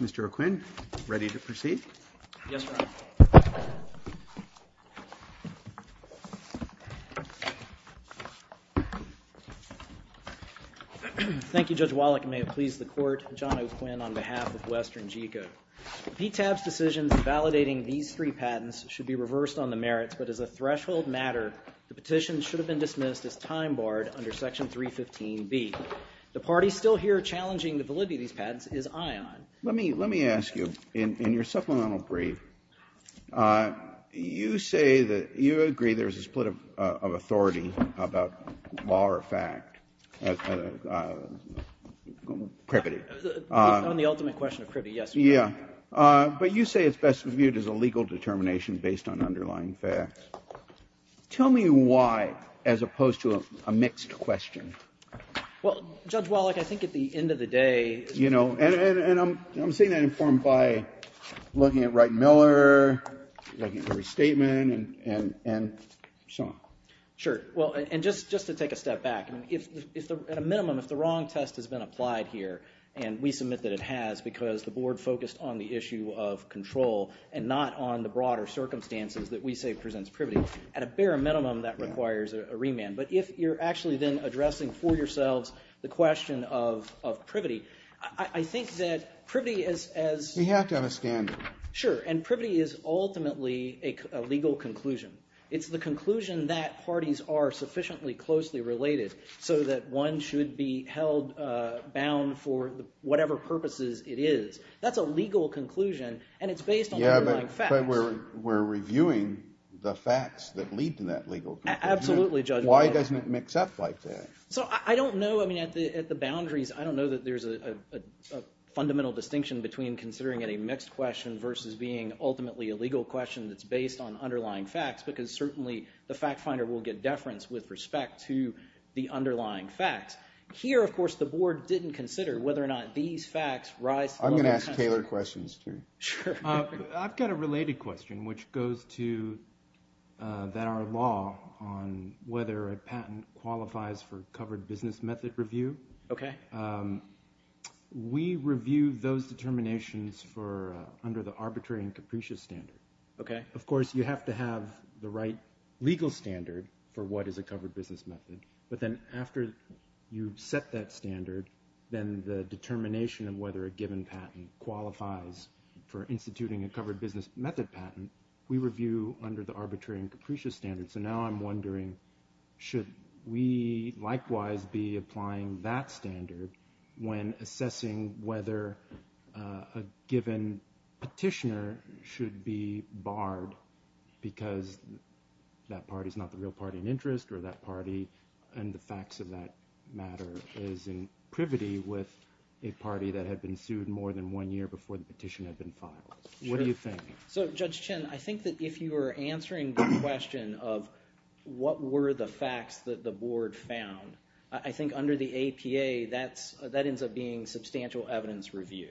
Mr. O'Quinn, ready to proceed? Yes, Your Honor. Thank you, Judge Wallach. I may have pleased the court, John O'Quinn, on behalf of WesternGeco. PTAB's decisions validating these three patents should be reversed on the merits, but as a threshold matter, the petition should have been dismissed as time barred under Section 315B. The party still here challenging the validity of these patents is Ion. Let me ask you, in your supplemental brief, you say that you agree there's a split of authority about law or fact. On the ultimate question of privy, yes. Yeah, but you say it's best viewed as a legal determination based on underlying facts. Tell me why, as opposed to a mixed question. Well, Judge Wallach, I think at the end of the day... You know, and I'm saying that informed by looking at Wright & Miller, looking at every statement, and so on. Sure. Well, and just to take a step back, at a minimum, if the wrong test has been applied here, and we submit that it has because the board focused on the issue of control and not on the broader circumstances that we say presents privy, at a bare minimum, that requires a remand. But if you're actually then addressing for yourselves the question of privy, I think that privy is as... You have to have a standard. Sure, and privy is ultimately a legal conclusion. It's the conclusion that parties are sufficiently closely related so that one should be held bound for whatever purposes it is. That's a legal conclusion, and it's based on underlying facts. Yeah, but we're reviewing the facts that lead to that legal conclusion. Absolutely, Judge Wallach. Why doesn't it mix up like that? So I don't know. I mean, at the boundaries, I don't know that there's a fundamental distinction between considering it a mixed question versus being ultimately a legal question that's based on underlying facts because certainly the fact finder will get deference with respect to the underlying facts. Here, of course, the board didn't consider whether or not these facts rise to the level of... I'm going to ask Taylor questions, too. Sure. I've got a related question, which goes to our law on whether a patent qualifies for covered business method review. Okay. We review those determinations under the arbitrary and capricious standard. Okay. Of course, you have to have the right legal standard for what is a covered business method, but then after you've set that standard, then the determination of whether a given patent qualifies for instituting a covered business method patent, we review under the arbitrary and capricious standard. So now I'm wondering should we likewise be applying that standard when assessing whether a given petitioner should be barred because that party is not the real party in interest or that party and the facts of that matter is in privity with a party that had been sued more than one year before the petition had been filed? Sure. What do you think? So, Judge Chin, I think that if you are answering the question of what were the facts that the board found, I think under the APA that ends up being substantial evidence review.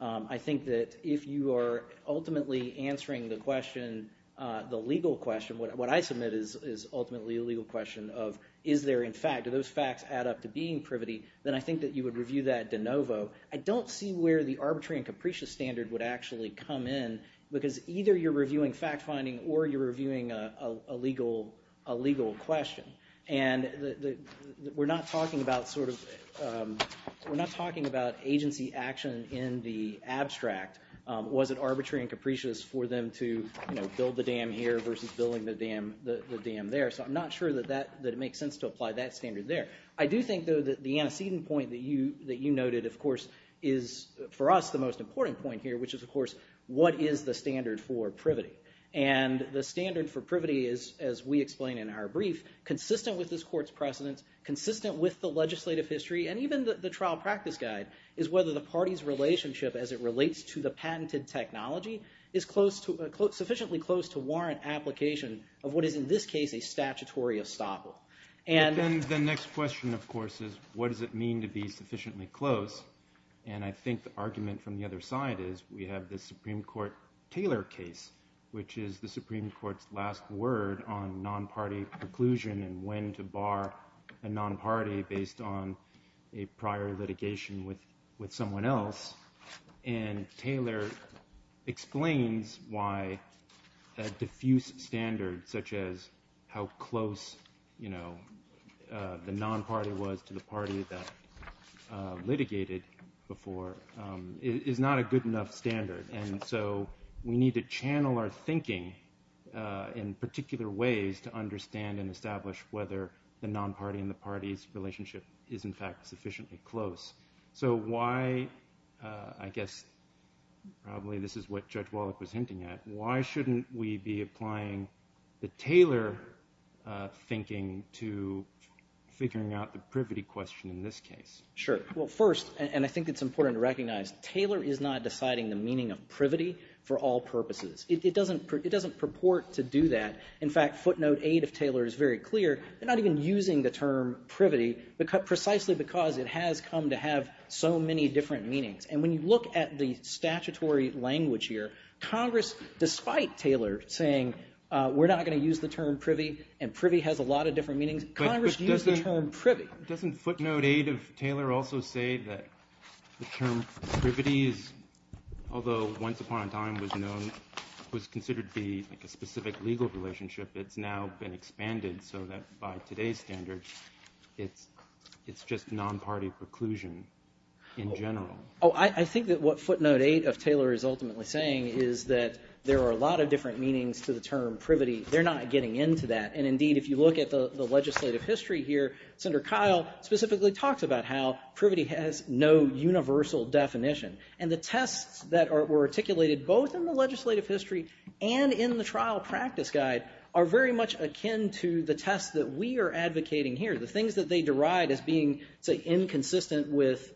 I think that if you are ultimately answering the question, the legal question, what I submit is ultimately a legal question of is there in fact, do those facts add up to being privity, then I think that you would review that de novo. I don't see where the arbitrary and capricious standard would actually come in because either you're reviewing fact finding or you're reviewing a legal question. And we're not talking about agency action in the abstract. Was it arbitrary and capricious for them to build the dam here versus building the dam there? So I'm not sure that it makes sense to apply that standard there. I do think, though, that the antecedent point that you noted, of course, is for us the most important point here, which is, of course, what is the standard for privity? And the standard for privity is, as we explain in our brief, consistent with this court's precedence, consistent with the legislative history, and even the trial practice guide, is whether the party's relationship as it relates to the patented technology is sufficiently close to warrant application of what is in this case a statutory estoppel. And the next question, of course, is what does it mean to be sufficiently close? And I think the argument from the other side is we have this Supreme Court Taylor case which is the Supreme Court's last word on non-party preclusion and when to bar a non-party based on a prior litigation with someone else. And Taylor explains why that diffuse standard, such as how close, you know, the non-party was to the party that litigated before, is not a good enough standard. And so we need to channel our thinking in particular ways to understand and establish whether the non-party and the party's relationship is, in fact, sufficiently close. So why, I guess probably this is what Judge Wallach was hinting at, why shouldn't we be applying the Taylor thinking to figuring out the privity question in this case? Sure. Well, first, and I think it's important to recognize, Taylor is not deciding the meaning of privity for all purposes. It doesn't purport to do that. In fact, footnote 8 of Taylor is very clear. They're not even using the term privity precisely because it has come to have so many different meanings. And when you look at the statutory language here, Congress, despite Taylor saying we're not going to use the term privy and privy has a lot of different meanings, Congress used the term privy. Doesn't footnote 8 of Taylor also say that the term privity is, although once upon a time was known, was considered to be a specific legal relationship, it's now been expanded so that by today's standards it's just non-party preclusion in general? Oh, I think that what footnote 8 of Taylor is ultimately saying is that there are a lot of different meanings to the term privity. They're not getting into that. And indeed, if you look at the legislative history here, Senator Kyle specifically talks about how privity has no universal definition. And the tests that were articulated both in the legislative history and in the trial practice guide are very much akin to the tests that we are advocating here, the things that they deride as being inconsistent with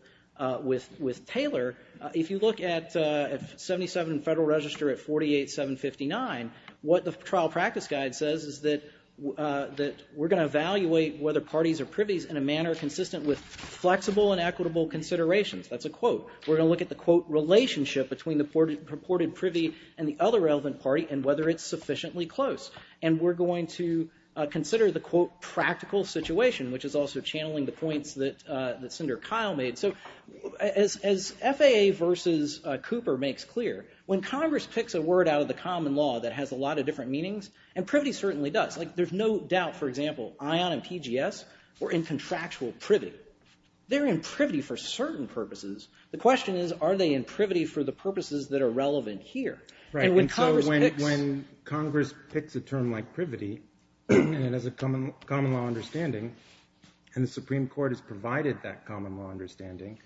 Taylor. If you look at 77 Federal Register at 48759, what the trial practice guide says is that we're going to evaluate whether parties are privies in a manner consistent with flexible and equitable considerations. That's a quote. We're going to look at the, quote, relationship between the purported privy and the other relevant party and whether it's sufficiently close. And we're going to consider the, quote, practical situation, which is also channeling the points that Senator Kyle made. So as FAA versus Cooper makes clear, when Congress picks a word out of the common law that has a lot of different meanings, and privity certainly does. Like there's no doubt, for example, ION and PGS were in contractual privy. They're in privy for certain purposes. The question is, are they in privy for the purposes that are relevant here? And when Congress picks a term like privity and it has a common law understanding and the Supreme Court has provided that common law understanding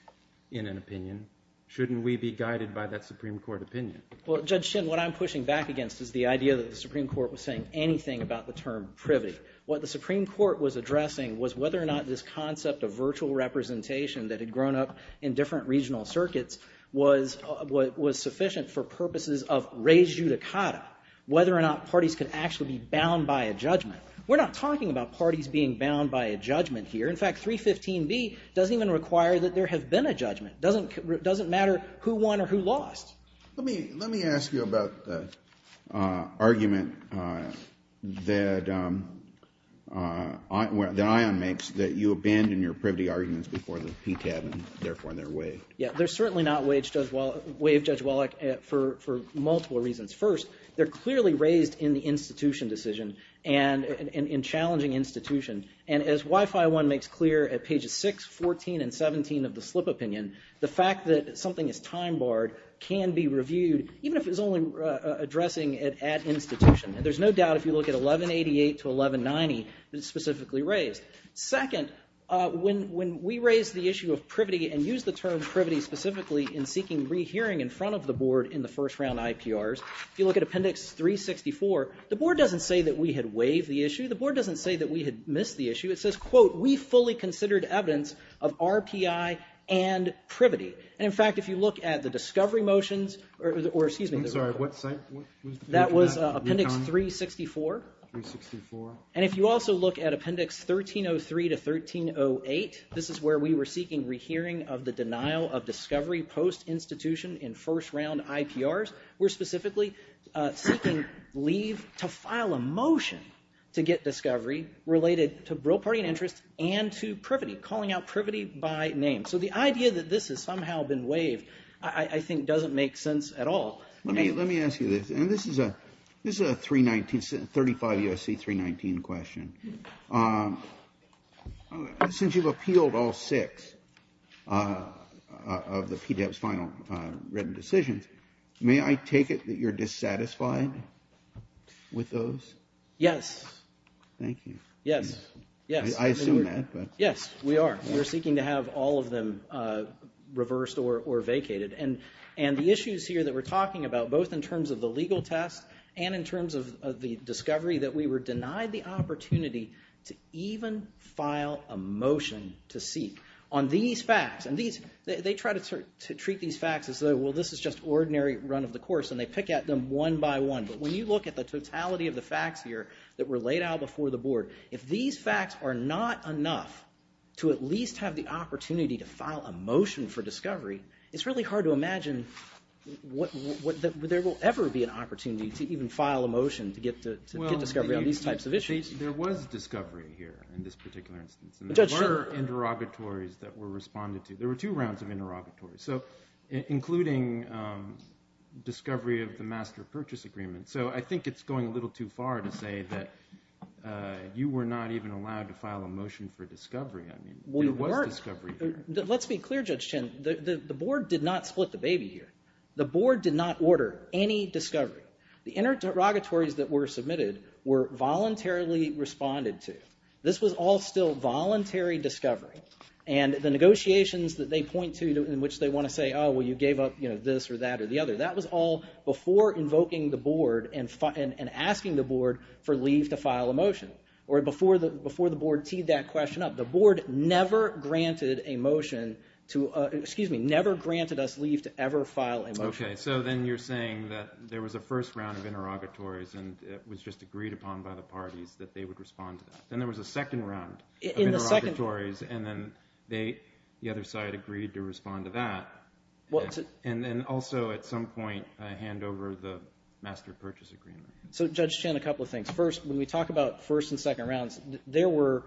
in an opinion, shouldn't we be guided by that Supreme Court opinion? Well, Judge Shinn, what I'm pushing back against is the idea that the Supreme Court was saying anything about the term privy. What the Supreme Court was addressing was whether or not this concept of virtual representation that had grown up in different regional circuits was sufficient for purposes of rejudicata, whether or not parties could actually be bound by a judgment. We're not talking about parties being bound by a judgment here. In fact, 315B doesn't even require that there have been a judgment. It doesn't matter who won or who lost. Let me ask you about the argument that ION makes that you abandon your privity arguments before the PTAB and therefore they're waived. Yeah, they're certainly not waived, Judge Wallach, for multiple reasons. First, they're clearly raised in the institution decision and in challenging institution. And as WIFI-1 makes clear at pages 6, 14, and 17 of the slip opinion, the fact that something is time barred can be reviewed, even if it's only addressing it at institution. And there's no doubt if you look at 1188 to 1190, it's specifically raised. Second, when we raise the issue of privity and use the term privity specifically in seeking rehearing in front of the board in the first round IPRs, if you look at Appendix 364, the board doesn't say that we had waived the issue. The board doesn't say that we had missed the issue. It says, quote, we fully considered evidence of RPI and privity. And in fact, if you look at the discovery motions, or excuse me. I'm sorry, what site was that? That was Appendix 364. 364. And if you also look at Appendix 1303 to 1308, this is where we were seeking rehearing of the denial of discovery post-institution in first round IPRs. So we're specifically seeking leave to file a motion to get discovery related to real party interest and to privity, calling out privity by name. So the idea that this has somehow been waived, I think, doesn't make sense at all. Let me ask you this. And this is a 319, 35 USC 319 question. Since you've appealed all six of the PDEP's final written decisions, may I take it that you're dissatisfied with those? Yes. Thank you. Yes. Yes. I assume that, but. Yes, we are. We're seeking to have all of them reversed or vacated. And the issues here that we're talking about, both in terms of the legal test and in terms of the discovery, that we were denied the opportunity to even file a motion to seek on these facts. And they try to treat these facts as though, well, this is just ordinary run of the course. And they pick at them one by one. But when you look at the totality of the facts here that were laid out before the board, if these facts are not enough to at least have the opportunity to file a motion for discovery, it's really hard to imagine that there will ever be an opportunity to even file a motion to get discovery on these types of issues. Well, there was discovery here in this particular instance. And there were interrogatories that were responded to. There were two rounds of interrogatories, including discovery of the master purchase agreement. So I think it's going a little too far to say that you were not even allowed to file a motion for discovery. I mean, there was discovery here. Let's be clear, Judge Chin. The board did not split the baby here. The board did not order any discovery. The interrogatories that were submitted were voluntarily responded to. This was all still voluntary discovery. And the negotiations that they point to in which they want to say, oh, well, you gave up this or that or the other, that was all before invoking the board and asking the board for leave to file a motion, or before the board teed that question up. The board never granted a motion to – excuse me, never granted us leave to ever file a motion. Okay. So then you're saying that there was a first round of interrogatories and it was just agreed upon by the parties that they would respond to that. Then there was a second round of interrogatories. And then they – the other side agreed to respond to that. And then also at some point hand over the master purchase agreement. So, Judge Chin, a couple of things. First, when we talk about first and second rounds, there were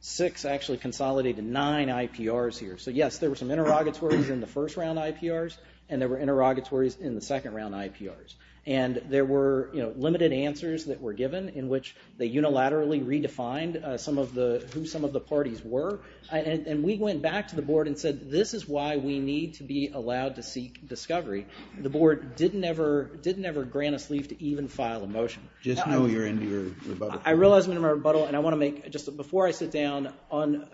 six actually consolidated nine IPRs here. So, yes, there were some interrogatories in the first round IPRs, and there were interrogatories in the second round IPRs. And there were limited answers that were given in which they unilaterally redefined some of the – who some of the parties were. And we went back to the board and said, this is why we need to be allowed to seek discovery. I realize I'm in a rebuttal, and I want to make – just before I sit down on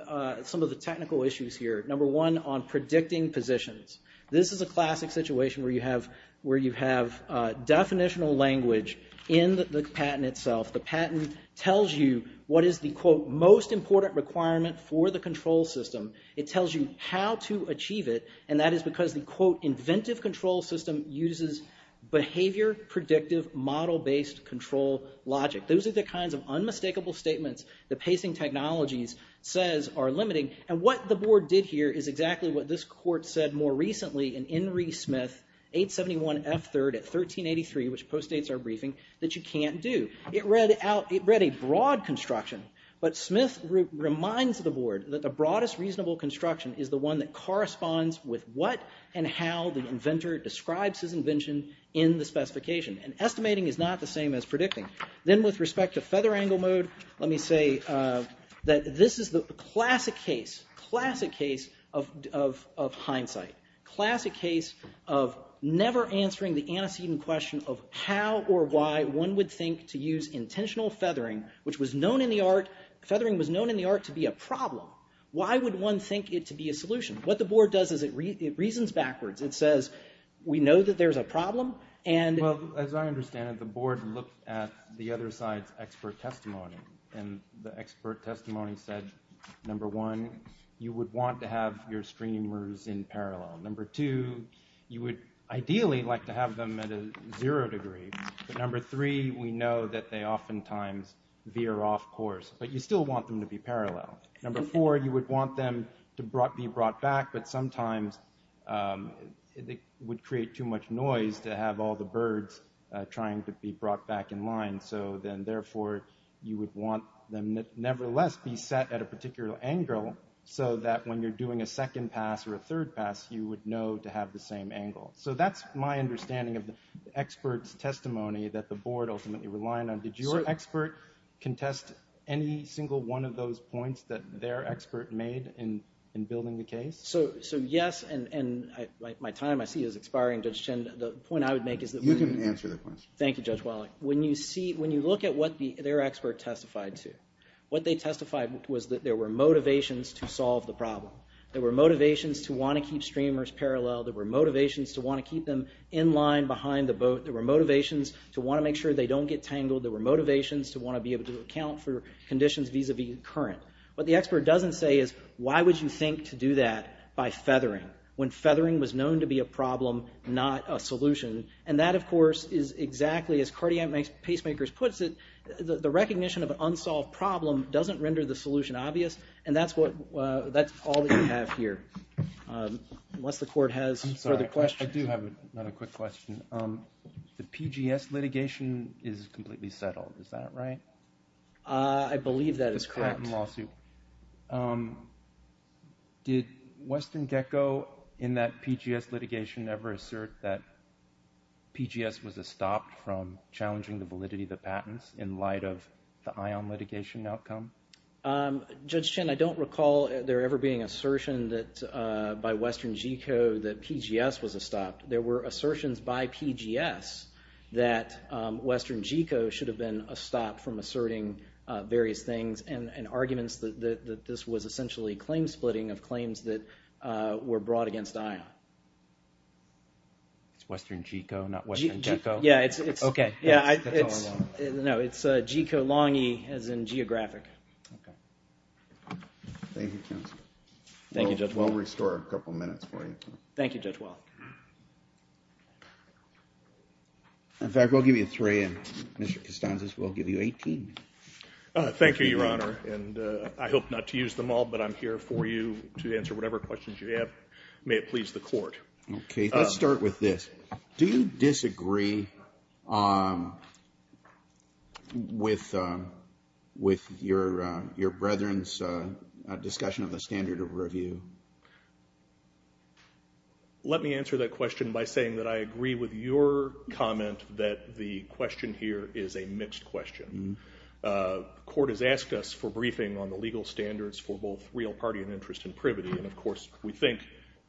some of the technical issues here, number one on predicting positions. This is a classic situation where you have definitional language in the patent itself. The patent tells you what is the, quote, most important requirement for the control system. It tells you how to achieve it, and that is because the, quote, predictive model-based control logic. Those are the kinds of unmistakable statements the pacing technologies says are limiting. And what the board did here is exactly what this court said more recently in Henry Smith 871F3rd at 1383, which postdates our briefing, that you can't do. It read a broad construction, but Smith reminds the board that the broadest reasonable construction is the one that corresponds with what and how the inventor describes his invention in the specification. And estimating is not the same as predicting. Then with respect to feather angle mode, let me say that this is the classic case, classic case of hindsight, classic case of never answering the antecedent question of how or why one would think to use intentional feathering, which was known in the art – feathering was known in the art to be a problem. Why would one think it to be a solution? What the board does is it reasons backwards. It says we know that there's a problem, and – Well, as I understand it, the board looked at the other side's expert testimony, and the expert testimony said, number one, you would want to have your streamers in parallel. Number two, you would ideally like to have them at a zero degree. But number three, we know that they oftentimes veer off course, but you still want them to be parallel. Number four, you would want them to be brought back, but sometimes it would create too much noise to have all the birds trying to be brought back in line. So then, therefore, you would want them nevertheless be set at a particular angle so that when you're doing a second pass or a third pass, you would know to have the same angle. So that's my understanding of the expert's testimony that the board ultimately relied on. Did your expert contest any single one of those points that their expert made in building the case? So, yes, and my time, I see, is expiring. Judge Chen, the point I would make is that we – You can answer the question. Thank you, Judge Wallach. When you look at what their expert testified to, what they testified was that there were motivations to solve the problem. There were motivations to want to keep streamers parallel. There were motivations to want to keep them in line behind the boat. There were motivations to want to make sure they don't get tangled. There were motivations to want to be able to account for conditions vis-a-vis current. What the expert doesn't say is, why would you think to do that by feathering when feathering was known to be a problem, not a solution? And that, of course, is exactly, as Cardiac Pacemakers puts it, the recognition of an unsolved problem doesn't render the solution obvious, and that's all that you have here, unless the court has further questions. I'm sorry, I do have another quick question. The PGS litigation is completely settled, is that right? I believe that is correct. That's correct in the lawsuit. Did Western Gecko in that PGS litigation ever assert that PGS was a stop from challenging the validity of the patents in light of the ION litigation outcome? Judge Chin, I don't recall there ever being an assertion by Western Gecko that PGS was a stop. There were assertions by PGS that Western Gecko should have been a stop from asserting various things and arguments that this was essentially claim splitting of claims that were brought against ION. It's Western Gecko, not Western Gecko? Yeah, it's Gecko-Lange as in geographic. Thank you, counsel. Thank you, Judge Wall. We'll restore a couple minutes for you. Thank you, Judge Wall. In fact, we'll give you three, and Mr. Costanzas, we'll give you 18. Thank you, Your Honor, and I hope not to use them all, but I'm here for you to answer whatever questions you have. May it please the court. Okay, let's start with this. Do you disagree with your brethren's discussion of the standard of review? Let me answer that question by saying that I agree with your comment that the question here is a mixed question. The court has asked us for briefing on the legal standards for both real party and interest in Privity, and, of course, we think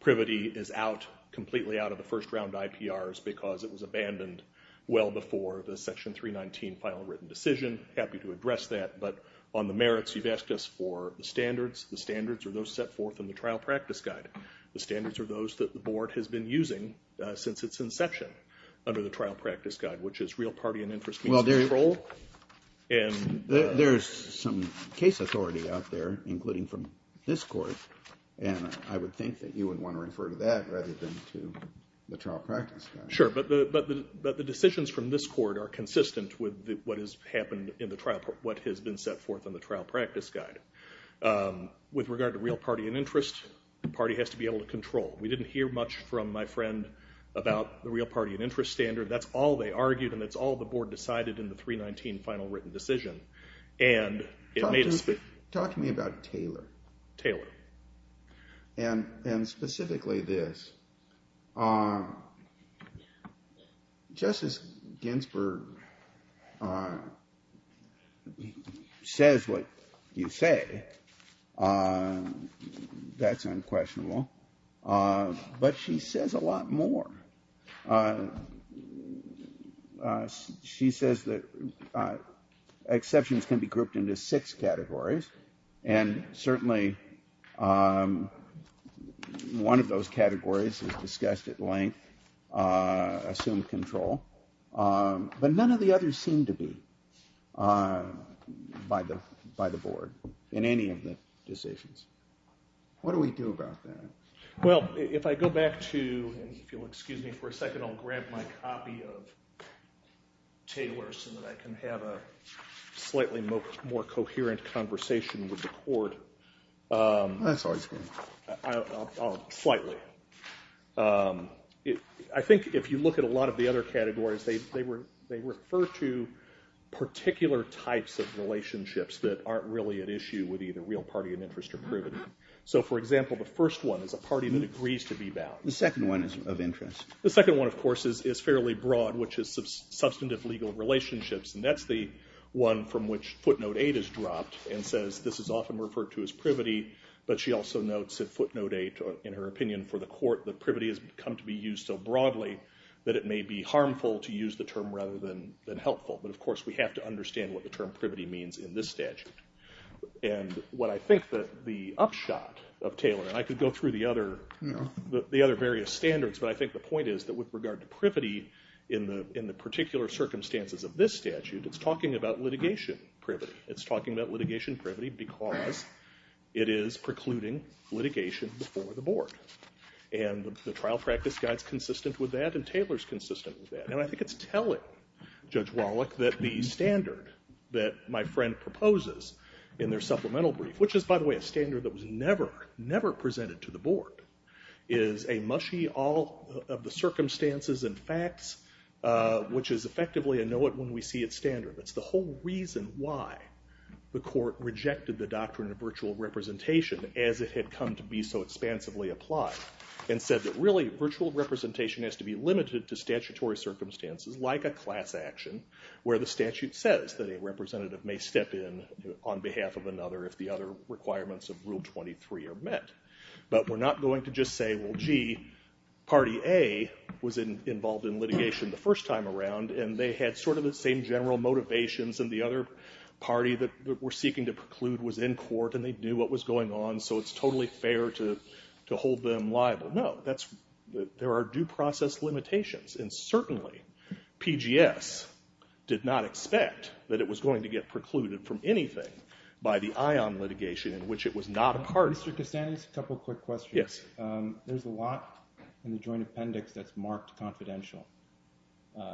Privity is out, completely out of the first round IPRs because it was abandoned well before the Section 319 final written decision. Happy to address that, but on the merits, you've asked us for the standards. The standards are those set forth in the trial practice guide. The standards are those that the board has been using since its inception under the trial practice guide, which is real party and interest control. There's some case authority out there, including from this court, and I would think that you would want to refer to that rather than to the trial practice guide. Sure, but the decisions from this court are consistent with what has happened in the trial, what has been set forth in the trial practice guide. With regard to real party and interest, the party has to be able to control. We didn't hear much from my friend about the real party and interest standard. That's all they argued, and that's all the board decided in the 319 final written decision. Talk to me about Taylor. Taylor. And specifically this. Justice Ginsburg says what you say. That's unquestionable. But she says a lot more. She says that exceptions can be grouped into six categories. And certainly one of those categories is discussed at length. Assume control. But none of the others seem to be by the board in any of the decisions. What do we do about that? Well, if I go back to, if you'll excuse me for a second, I'll grab my copy of Taylor so that I can have a slightly more coherent conversation with the court. That's always good. Slightly. I think if you look at a lot of the other categories, they refer to particular types of relationships that aren't really at issue with either real party and interest or privity. So, for example, the first one is a party that agrees to be bound. The second one is of interest. The second one, of course, is fairly broad, which is substantive legal relationships, and that's the one from which footnote 8 is dropped and says this is often referred to as privity, but she also notes at footnote 8 in her opinion for the court that privity has come to be used so broadly that it may be harmful to use the term rather than helpful. But, of course, we have to understand what the term privity means in this statute. And what I think the upshot of Taylor, and I could go through the other various standards, but I think the point is that with regard to privity in the particular circumstances of this statute, it's talking about litigation privity. It's talking about litigation privity because it is precluding litigation before the board. And the trial practice guide's consistent with that, and Taylor's consistent with that. And I think it's telling Judge Wallach that the standard that my friend proposes in their supplemental brief, which is, by the way, a standard that was never, never presented to the board, is a mushy all of the circumstances and facts, which is effectively a know-it-when-we-see-it standard. It's the whole reason why the court rejected the doctrine of virtual representation as it had come to be so expansively applied and said that, really, virtual representation has to be limited to statutory circumstances like a class action where the statute says that a representative may step in on behalf of another if the other requirements of Rule 23 are met. But we're not going to just say, well, gee, Party A was involved in litigation the first time around, and they had sort of the same general motivations, and the other party that we're seeking to preclude was in court, and they knew what was going on, so it's totally fair to hold them liable. No, there are due process limitations, and certainly PGS did not expect that it was going to get precluded from anything by the ION litigation, in which it was not a party. Mr. Castaneda, just a couple of quick questions. Yes. There's a lot in the joint appendix that's marked confidential, like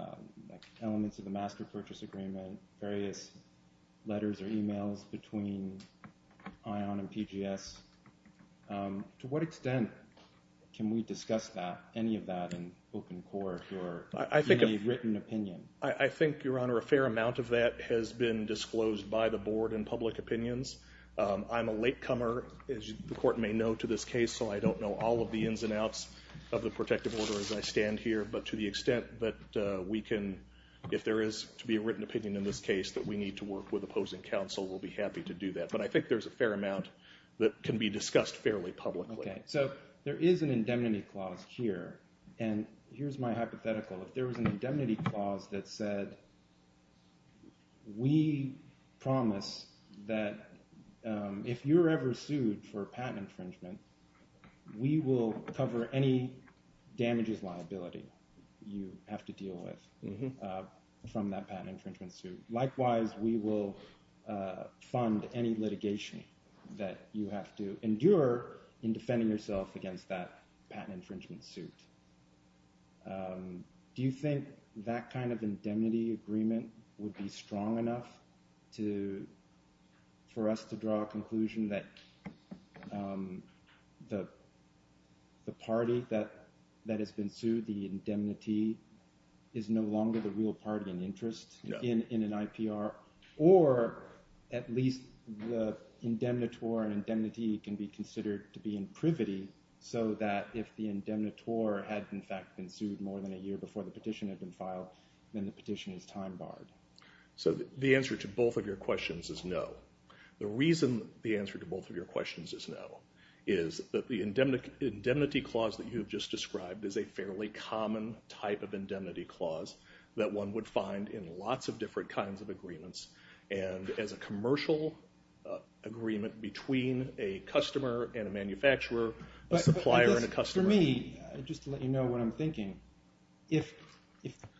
elements of the Master Purchase Agreement, various letters or e-mails between ION and PGS. To what extent can we discuss that, any of that, in open court or in a written opinion? I think, Your Honor, a fair amount of that has been disclosed by the board in public opinions. I'm a latecomer, as the court may know, to this case, so I don't know all of the ins and outs of the protective order as I stand here, but to the extent that we can, if there is to be a written opinion in this case, that we need to work with opposing counsel, we'll be happy to do that. But I think there's a fair amount that can be discussed fairly publicly. Okay. So there is an indemnity clause here, and here's my hypothetical. If there was an indemnity clause that said, we promise that if you're ever sued for patent infringement, we will cover any damages liability you have to deal with from that patent infringement suit. Likewise, we will fund any litigation that you have to endure in defending yourself against that patent infringement suit. Do you think that kind of indemnity agreement would be strong enough for us to draw a conclusion that the party that has been sued, the indemnity, is no longer the real party in interest in an IPR, or at least the indemnitor and indemnity can be considered to be in privity so that if the indemnitor had in fact been sued more than a year before the petition had been filed, then the petition is time barred? So the answer to both of your questions is no. The reason the answer to both of your questions is no is that the indemnity clause that you have just described is a fairly common type of indemnity clause that one would find in lots of different kinds of agreements, and as a commercial agreement between a customer and a manufacturer, a supplier and a customer. For me, just to let you know what I'm thinking, if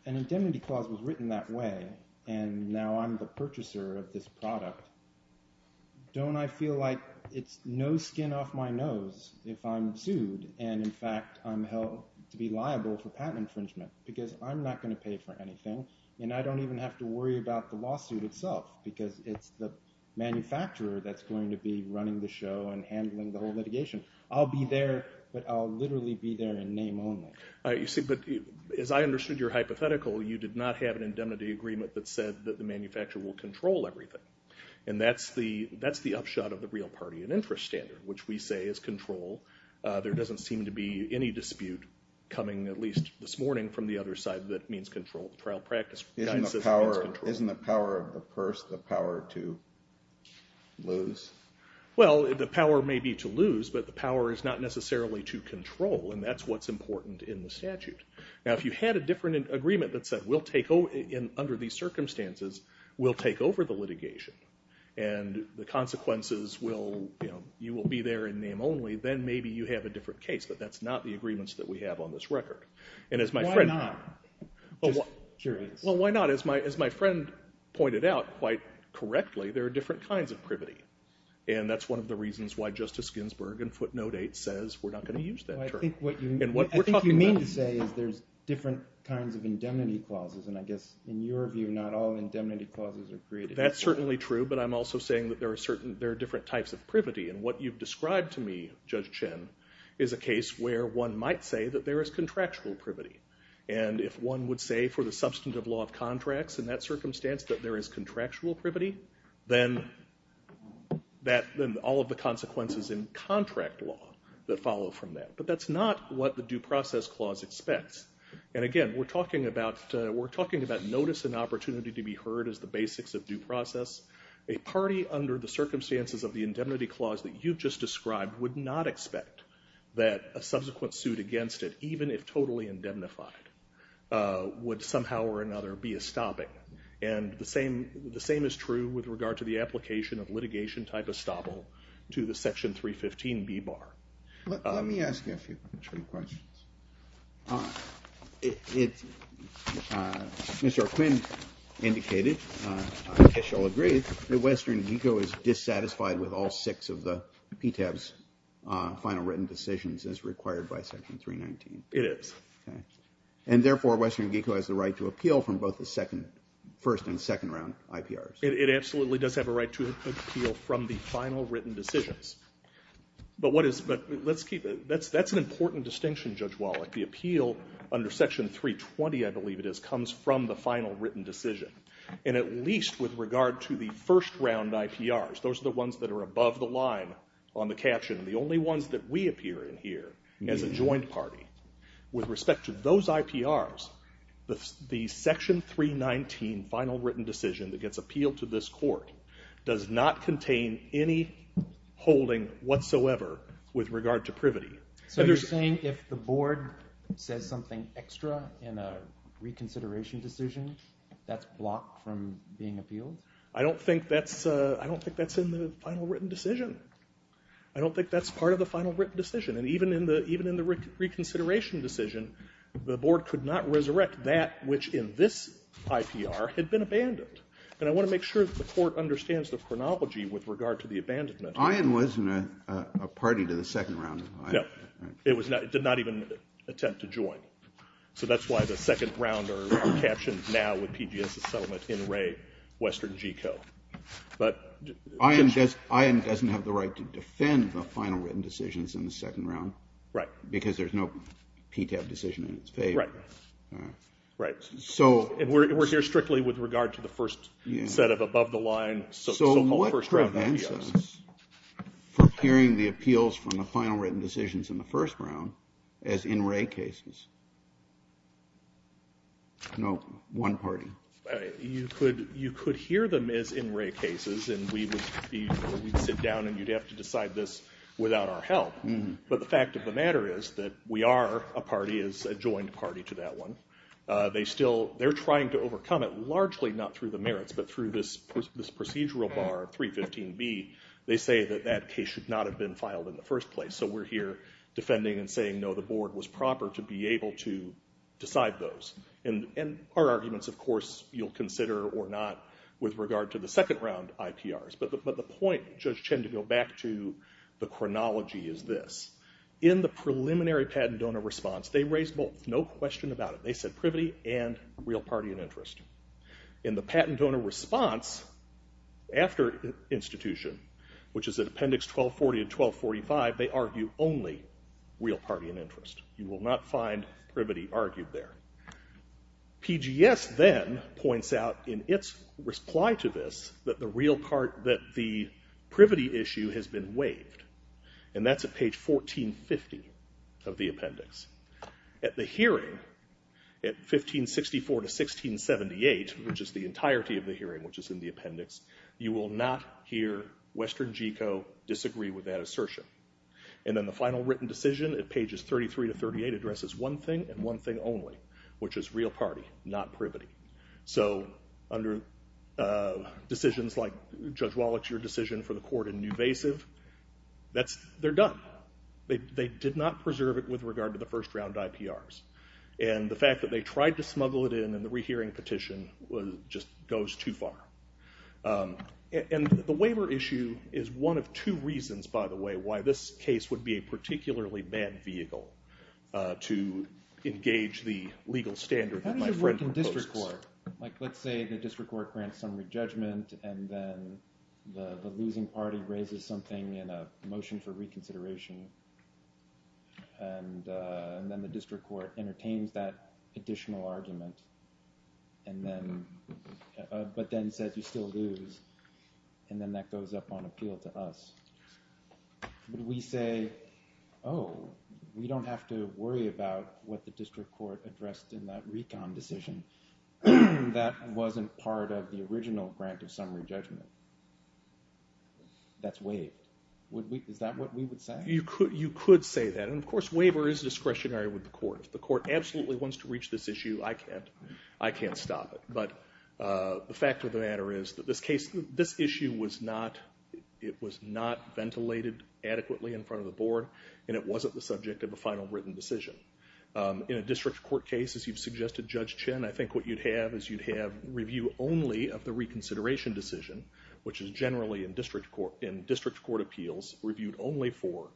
an indemnity clause was written that way and now I'm the purchaser of this product, don't I feel like it's no skin off my nose if I'm sued and in fact I'm held to be liable for patent infringement because I'm not going to pay for anything and I don't even have to worry about the lawsuit itself because it's the manufacturer that's going to be running the show and handling the whole litigation. I'll be there, but I'll literally be there in name only. But as I understood your hypothetical, you did not have an indemnity agreement that said that the manufacturer will control everything, and that's the upshot of the real party in interest standard, which we say is control. There doesn't seem to be any dispute coming at least this morning from the other side that means control. The trial practice kind of says it means control. Isn't the power of the purse the power to lose? Well, the power may be to lose, but the power is not necessarily to control, and that's what's important in the statute. Now, if you had a different agreement that said, under these circumstances, we'll take over the litigation and the consequences, you will be there in name only, then maybe you have a different case, but that's not the agreements that we have on this record. Why not? Just curious. Well, why not? As my friend pointed out quite correctly, there are different kinds of privity, and that's one of the reasons why Justice Ginsburg in footnote 8 says we're not going to use that term. I think what you mean to say is there's different kinds of indemnity clauses, and I guess in your view not all indemnity clauses are created equal. That's certainly true, but I'm also saying that there are different types of privity, and what you've described to me, Judge Chin, is a case where one might say that there is contractual privity, and if one would say for the substantive law of contracts in that circumstance that there is contractual privity, then all of the consequences in contract law that follow from that. But that's not what the due process clause expects, and again, we're talking about notice and opportunity to be heard as the basics of due process. A party under the circumstances of the indemnity clause that you've just described would not expect that a subsequent suit against it, even if totally indemnified, would somehow or another be a stopping, and the same is true with regard to the application of litigation type estoppel to the Section 315B bar. Let me ask you a few questions. Mr. Quinn indicated, I guess you'll agree, that Western Geco is dissatisfied with all six of the PTAB's final written decisions as required by Section 319. It is. And therefore, Western Geco has the right to appeal from both the first and second round IPRs. It absolutely does have a right to appeal from the final written decisions. But that's an important distinction, Judge Wallach. The appeal under Section 320, I believe it is, comes from the final written decision. And at least with regard to the first round IPRs, those are the ones that are above the line on the caption, the only ones that we appear in here as a joint party. With respect to those IPRs, the Section 319 final written decision that gets appealed to this Court does not contain any holding whatsoever with regard to privity. So you're saying if the Board says something extra in a reconsideration decision, that's blocked from being appealed? I don't think that's in the final written decision. I don't think that's part of the final written decision. And even in the reconsideration decision, the Board could not resurrect that which in this IPR had been abandoned. And I want to make sure that the Court understands the chronology with regard to the abandonment. Ayin wasn't a party to the second round. No. It did not even attempt to join. So that's why the second round are captioned now with PGS's settlement in re Western GCO. But... Ayin doesn't have the right to defend the final written decisions in the second round. Right. Because there's no PTAB decision in its favor. Right. Right. So... And we're here strictly with regard to the first set of above the line... So what prevents us from hearing the appeals from the final written decisions in the first round as in-ray cases? No one party. You could hear them as in-ray cases, and we would sit down and you'd have to decide this without our help. But the fact of the matter is that we are a party, is a joined party to that one. They're trying to overcome it largely not through the merits, but through this procedural bar 315B. They say that that case should not have been filed in the first place. So we're here defending and saying, no, the board was proper to be able to decide those. And our arguments, of course, you'll consider or not with regard to the second round IPRs. But the point, Judge Chen, to go back to the chronology is this. In the preliminary patent donor response, they raised both, no question about it. They said privity and real party and interest. In the patent donor response after institution, which is at Appendix 1240 and 1245, they argue only real party and interest. You will not find privity argued there. PGS then points out in its reply to this that the privity issue has been waived. And that's at page 1450 of the appendix. At the hearing, at 1564 to 1678, which is the entirety of the hearing which is in the appendix, you will not hear Western GECO disagree with that assertion. And then the final written decision at pages 33 to 38 addresses one thing and one thing only, which is real party, not privity. So under decisions like Judge Wallach's decision for the court in Newvasive, they're done. They did not preserve it with regard to the first round IPRs. And the fact that they tried to smuggle it in in the rehearing petition just goes too far. And the waiver issue is one of two reasons, by the way, why this case would be a particularly bad vehicle to engage the legal standard that my friend proposed. Like let's say the district court grants some re-judgment and then the losing party raises something in a motion for reconsideration. And then the district court entertains that additional argument, but then says you still lose. And then that goes up on appeal to us. Would we say, oh, we don't have to worry about what the district court addressed in that recon decision? That wasn't part of the original grant of summary judgment. That's waived. Is that what we would say? You could say that. And of course, waiver is discretionary with the court. If the court absolutely wants to reach this issue, I can't stop it. But the fact of the matter is that this case, this issue was not ventilated adequately in front of the board, and it wasn't the subject of a final written decision. In a district court case, as you've suggested, Judge Chin, I think what you'd have is you'd have review only of the reconsideration decision, which is generally in district court appeals reviewed only for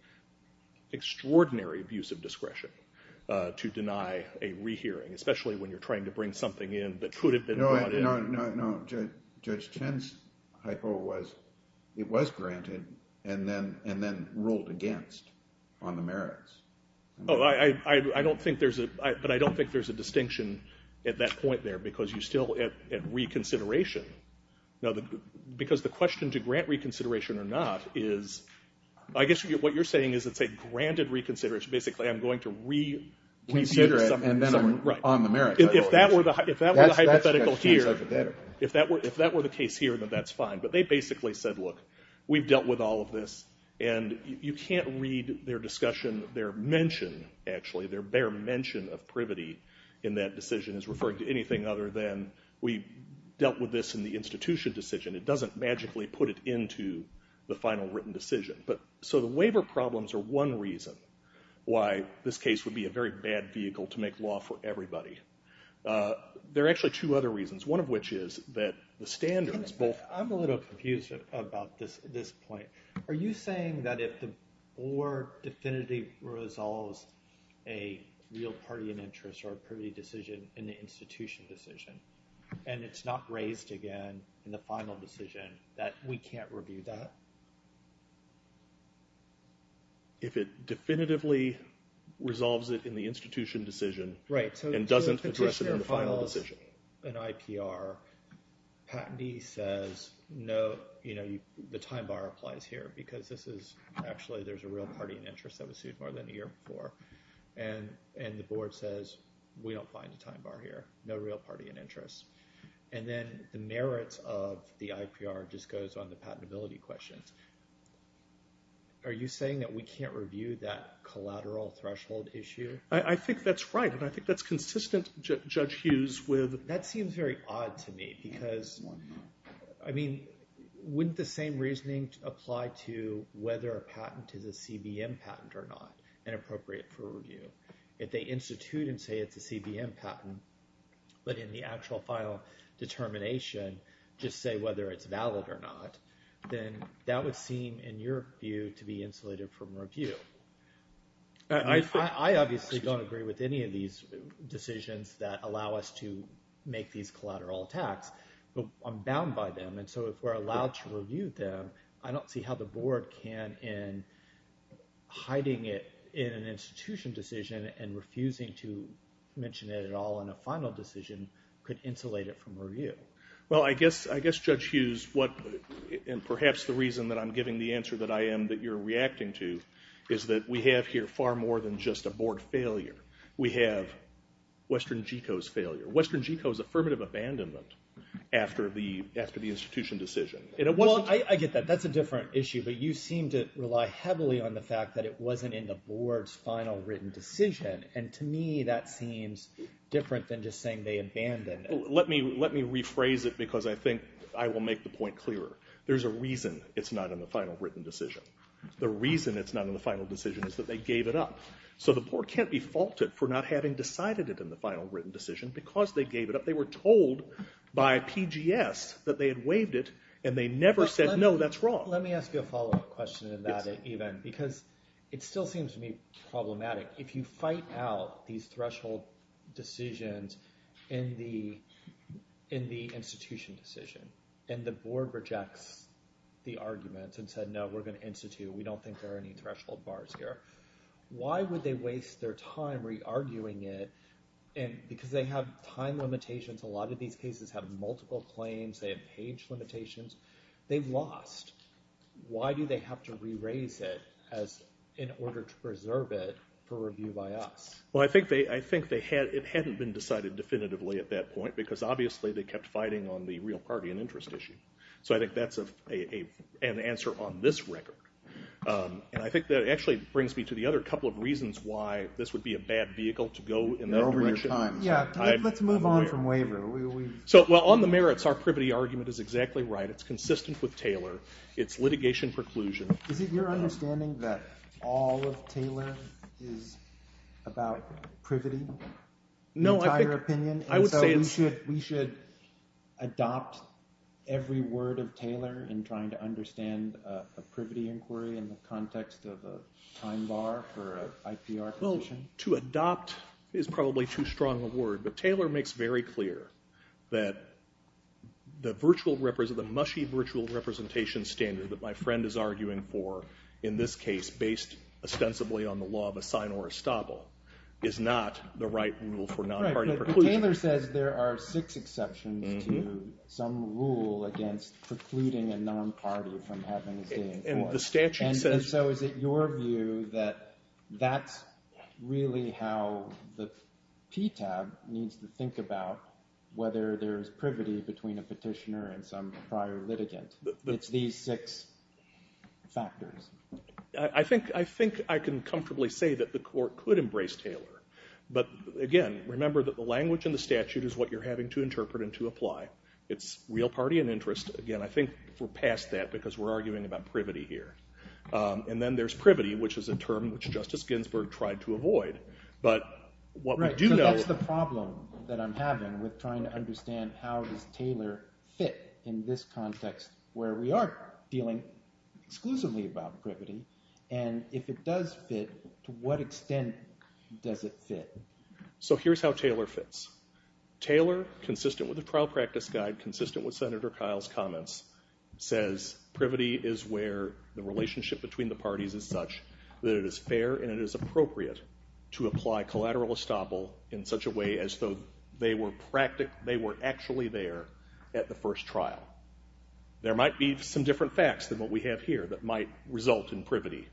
extraordinary abuse of discretion to deny a rehearing, especially when you're trying to bring something in that could have been brought in. No, Judge Chin's hypo was it was granted and then ruled against on the merits. Oh, but I don't think there's a distinction at that point there, because you're still at reconsideration. Because the question to grant reconsideration or not is, I guess what you're saying is it's a granted reconsideration. Basically, I'm going to reconsider it, and then I'm on the merits. If that were the hypothetical here, if that were the case here, then that's fine. But they basically said, look, we've dealt with all of this, and you can't read their discussion, their mention, actually, their bare mention of privity in that decision as referring to anything other than we dealt with this in the institution decision. It doesn't magically put it into the final written decision. So the waiver problems are one reason why this case would be a very bad vehicle to make law for everybody. There are actually two other reasons, one of which is that the standards both. I'm a little confused about this point. Are you saying that if the board definitively resolves a real party and interest or a privity decision in the institution decision, and it's not raised again in the final decision, that we can't review that? If it definitively resolves it in the institution decision and doesn't address it in the final decision. An IPR patentee says, no, the time bar applies here. Because this is, actually, there's a real party and interest that was sued more than a year before. And the board says, we don't find a time bar here. No real party and interest. And then the merits of the IPR just goes on the patentability questions. Are you saying that we can't review that collateral threshold issue? I think that's right. And I think that's consistent, Judge Hughes, with. That seems very odd to me. Because, I mean, wouldn't the same reasoning apply to whether a patent is a CBM patent or not and appropriate for review? If they institute and say it's a CBM patent, but in the actual final determination just say whether it's valid or not, then that would seem, in your view, to be insulated from review. I obviously don't agree with any of these decisions that allow us to make these collateral attacks. But I'm bound by them. And so if we're allowed to review them, I don't see how the board can, in hiding it in an institution decision and refusing to mention it at all in a final decision, could insulate it from review. Well, I guess, Judge Hughes, what, and perhaps the reason that I'm giving the answer that I am that you're reacting to is that we have here far more than just a board failure. We have Western Geco's failure. Western Geco's affirmative abandonment after the institution decision. Well, I get that. That's a different issue. But you seem to rely heavily on the fact that it wasn't in the board's final written decision. And to me, that seems different than just saying they abandoned it. Let me rephrase it because I think I will make the point clearer. There's a reason it's not in the final written decision. The reason it's not in the final decision is that they gave it up. So the board can't be faulted for not having decided it in the final written decision because they gave it up. They were told by PGS that they had waived it. And they never said, no, that's wrong. Let me ask you a follow-up question on that even. Because it still seems to me problematic. If you fight out these threshold decisions in the institution decision, and the board rejects the arguments and said, no, we're going to institute. We don't think there are any threshold bars here. Why would they waste their time re-arguing it? And because they have time limitations. A lot of these cases have multiple claims. They have page limitations. They've lost. Why do they have to re-raise it in order to preserve it for review by us? Well, I think it hadn't been decided definitively at that point because, obviously, they So I think that's an answer on this record. And I think that actually brings me to the other couple of reasons why this would be a bad vehicle to go in that direction. You're over your time. Yeah, let's move on from waiver. Well, on the merits, our privity argument is exactly right. It's consistent with Taylor. It's litigation preclusion. Is it your understanding that all of Taylor is about privity, the entire opinion? No, I would say it's. Do you think that we should adopt every word of Taylor in trying to understand a privity inquiry in the context of a time bar for an IP architecture? Well, to adopt is probably too strong a word. But Taylor makes very clear that the mushy virtual representation standard that my friend is arguing for, in this case, based ostensibly on the law of a sign or a stobble, is not the right rule for non-party preclusion. Taylor says there are six exceptions to some rule against precluding a non-party from having a say in court. And the statute says. And so is it your view that that's really how the PTAB needs to think about whether there's privity between a petitioner and some prior litigant? It's these six factors. I think I can comfortably say that the court could embrace Taylor. But again, remember that the language in the statute is what you're having to interpret and to apply. It's real party and interest. Again, I think we're past that because we're arguing about privity here. And then there's privity, which is a term which Justice Ginsburg tried to avoid. But what we do know. Right, so that's the problem that I'm having with trying to understand how does Taylor fit in this context where we are dealing exclusively about privity. And if it does fit, to what extent does it fit? So here's how Taylor fits. Taylor, consistent with the trial practice guide, consistent with Senator Kyle's comments, says privity is where the relationship between the parties is such that it is fair and it is appropriate to apply collateral estoppel in such a way as though they were actually there at the first trial. There might be some different facts than what we have here that might result in privity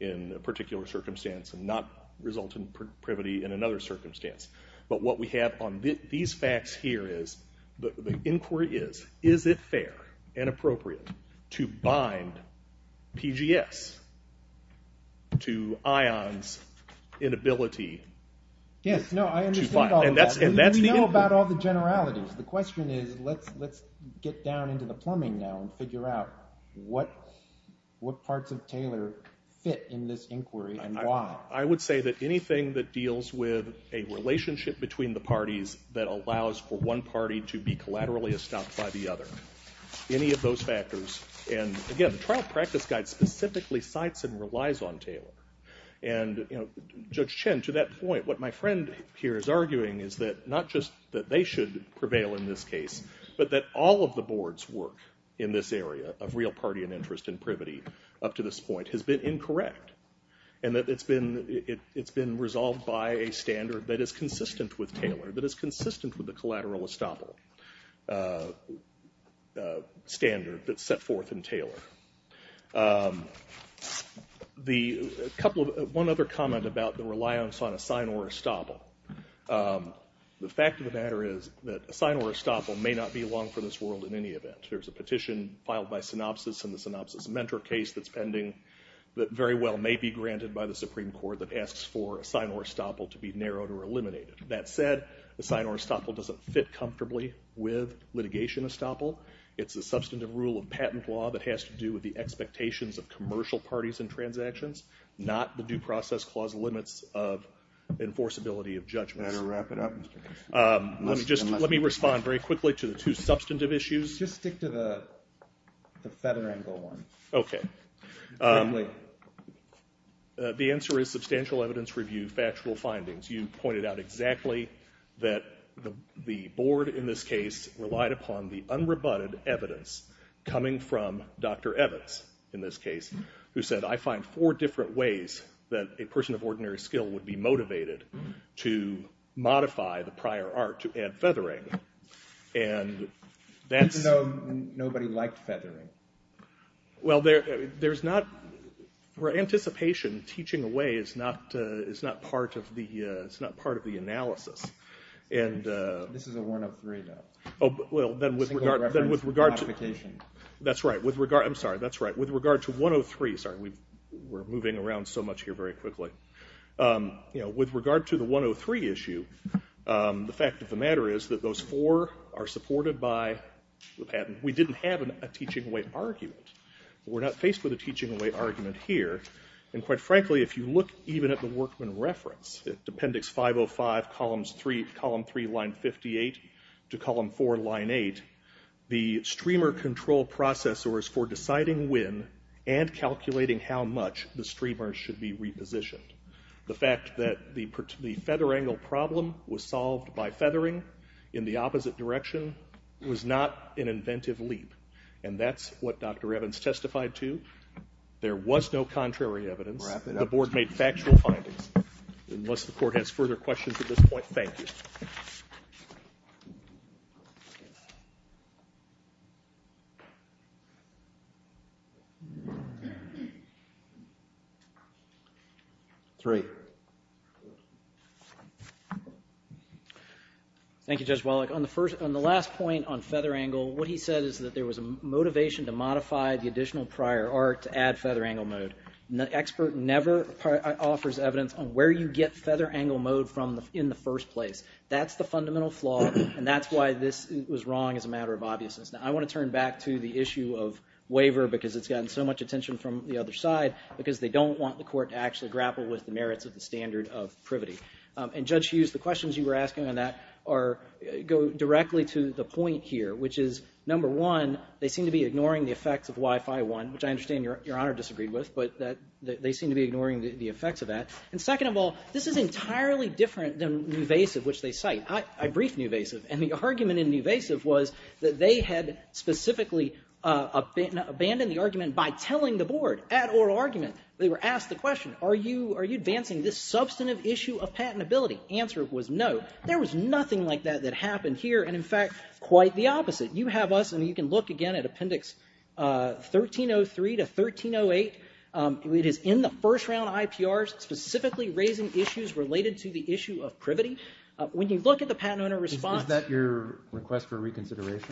in a particular circumstance and not result in privity in another circumstance. But what we have on these facts here is the inquiry is, is it fair and appropriate to bind PGS to ION's inability to bind? Yes, no, I understand all of that. And that's the inquiry. We know about all the generalities. The question is, let's get down into the plumbing now and figure out what parts of Taylor fit in this inquiry and why. I would say that anything that deals with a relationship between the parties that allows for one party to be collaterally estopped by the other, any of those factors. And again, the trial practice guide specifically cites and relies on Taylor. And Judge Chen, to that point, what my friend here is arguing is that not just that they should prevail in this case, but that all of the boards work in this area of real party and interest in privity up to this point has been incorrect. And that it's been resolved by a standard that is consistent with Taylor, that is consistent with the collateral estoppel standard that's set forth in Taylor. One other comment about the reliance on a sign or estoppel. The fact of the matter is that a sign or estoppel may not be long for this world in any event. There's a petition filed by synopsis in the synopsis mentor case that's pending that very well may be granted by the Supreme Court that asks for a sign or estoppel to be narrowed or eliminated. That said, a sign or estoppel doesn't fit comfortably with litigation estoppel. It's a substantive rule of patent law that has to do with the expectations of commercial parties and transactions, not the due process clause limits of enforceability of judgment. Better wrap it up. Let me respond very quickly to the two substantive issues. Just stick to the feather angle one. OK. Quickly. The answer is substantial evidence review, factual findings. You pointed out exactly that the board in this case relied upon the unrebutted evidence coming from Dr. Evans in this case, who said, I find four different ways that a person of ordinary skill would be motivated to modify the prior art to add feather angle. And that's- Even though nobody liked feathering. Well, there's not- where anticipation, teaching away, is not part of the analysis. This is a 103, though. Single reference modification. That's right. I'm sorry. That's right. With regard to 103, sorry. We're moving around so much here very quickly. With regard to the 103 issue, the fact of the matter is that those four are supported by the patent. We didn't have a teaching away argument. We're not faced with a teaching away argument here. And quite frankly, if you look even at the Workman reference, at appendix 505, column three, line 58, to column four, line eight, the streamer control processor is for deciding when and calculating how much the streamer should be repositioned. The fact that the feather angle problem was solved by feathering in the opposite direction was not an inventive leap. And that's what Dr. Evans testified to. There was no contrary evidence. The board made factual findings. Unless the court has further questions at this point, thank you. Three. Thank you, Judge Wallach. On the last point on feather angle, what he said is that there was a motivation to modify the additional prior art to add feather angle mode. The expert never offers evidence on where you get feather angle mode from in the first place. That's the fundamental flaw, and that's why this was wrong as a matter of obviousness. Now, I want to turn back to the issue of waiver because it's gotten so much attention from the other side because they don't want the court to actually grapple with the merits of the standard of privity. And, Judge Hughes, the questions you were asking on that go directly to the point here, which is, number one, they seem to be ignoring the effects of Wi-Fi 1, which I understand Your Honor disagreed with, but they seem to be ignoring the effects of that. And second of all, this is entirely different than Nuvasiv, which they cite. I briefed Nuvasiv, and the argument in Nuvasiv was that they had specifically abandoned the argument by telling the board at oral argument. They were asked the question, are you advancing this substantive issue of patentability? Answer was no. There was nothing like that that happened here, and in fact, quite the opposite. You have us, and you can look again at Appendix 1303 to 1308. It is in the first round IPRs specifically raising issues related to the issue of privity. When you look at the patent owner response...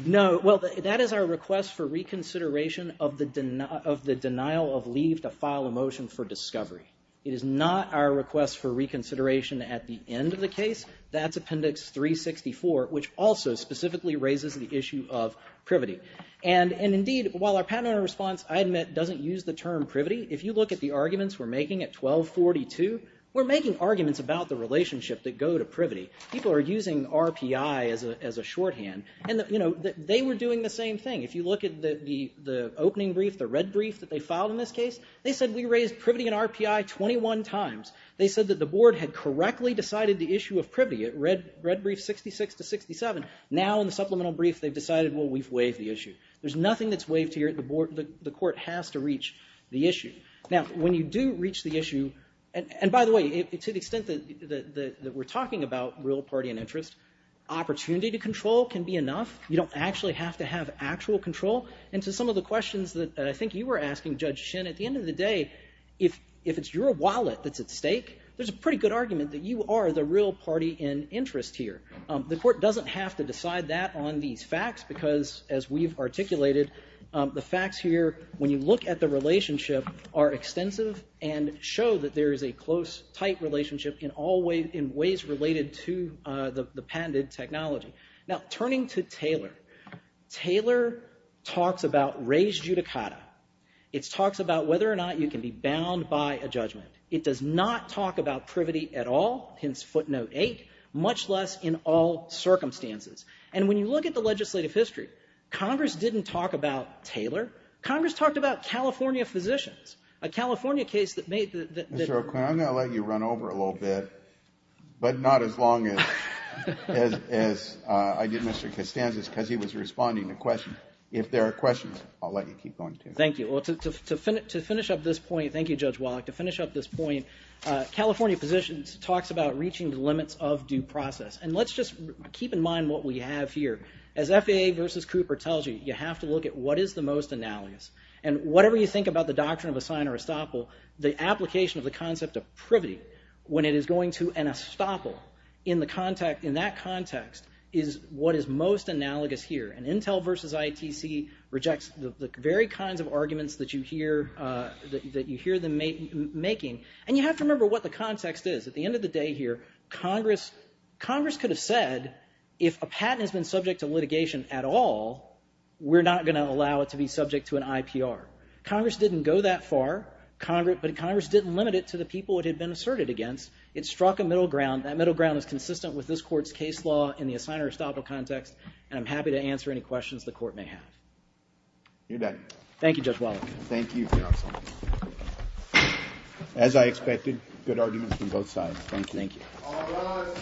No, well, that is our request for reconsideration of the denial of leave to file a motion for discovery. It is not our request for reconsideration at the end of the case. That's Appendix 364, which also specifically raises the issue of privity. And indeed, while our patent owner response, I admit, doesn't use the term privity, if you look at the arguments we're making at 1242, we're making arguments about the relationship that go to privity. People are using RPI as a shorthand, and they were doing the same thing. If you look at the opening brief, the red brief that they filed in this case, they said, we raised privity and RPI 21 times. They said that the board had correctly decided the issue of privity at red brief 66 to 67. Now in the supplemental brief, they've decided, well, we've waived the issue. There's nothing that's waived here. The court has to reach the issue. Now, when you do reach the issue... And by the way, to the extent that we're talking about, real party and interest, opportunity to control can be enough. You don't actually have to have actual control. And to some of the questions that I think you were asking, Judge Shin, at the end of the day, if it's your wallet that's at stake, there's a pretty good argument that you are the real party in interest here. The court doesn't have to decide that on these facts, because as we've articulated, the facts here, when you look at the relationship, are extensive and show that there is a close, tight relationship in ways related to the patented technology. Now, turning to Taylor. Taylor talks about res judicata. It talks about whether or not you can be bound by a judgment. It does not talk about privity at all, hence footnote 8, much less in all circumstances. And when you look at the legislative history, Congress didn't talk about Taylor. Congress talked about California physicians, a California case that made... Mr. O'Quinn, I'm going to let you run over a little bit, but not as long as I did Mr. Costanza's, because he was responding to questions. If there are questions, I'll let you keep going, too. Thank you. Well, to finish up this point, thank you, Judge Wallach, to finish up this point, California physicians talks about reaching the limits of due process. And let's just keep in mind what we have here. As FAA versus Cooper tells you, you have to look at what is the most analogous. And whatever you think about the doctrine of assign or estoppel, the application of the concept of privity, when it is going to an estoppel, in that context is what is most analogous here. And Intel versus ITC rejects the very kinds of arguments that you hear them making. And you have to remember what the context is. At the end of the day here, Congress could have said, if a patent has been subject to litigation at all, we're not going to allow it to be subject to an IPR. Congress didn't go that far. But Congress didn't limit it to the people it had been asserted against. It struck a middle ground. That middle ground is consistent with this Court's case law in the assign or estoppel context. And I'm happy to answer any questions the Court may have. You're done. Thank you, Judge Wallach. Thank you, Your Honor. As I expected, good arguments from both sides. Thank you. Thank you. All rise.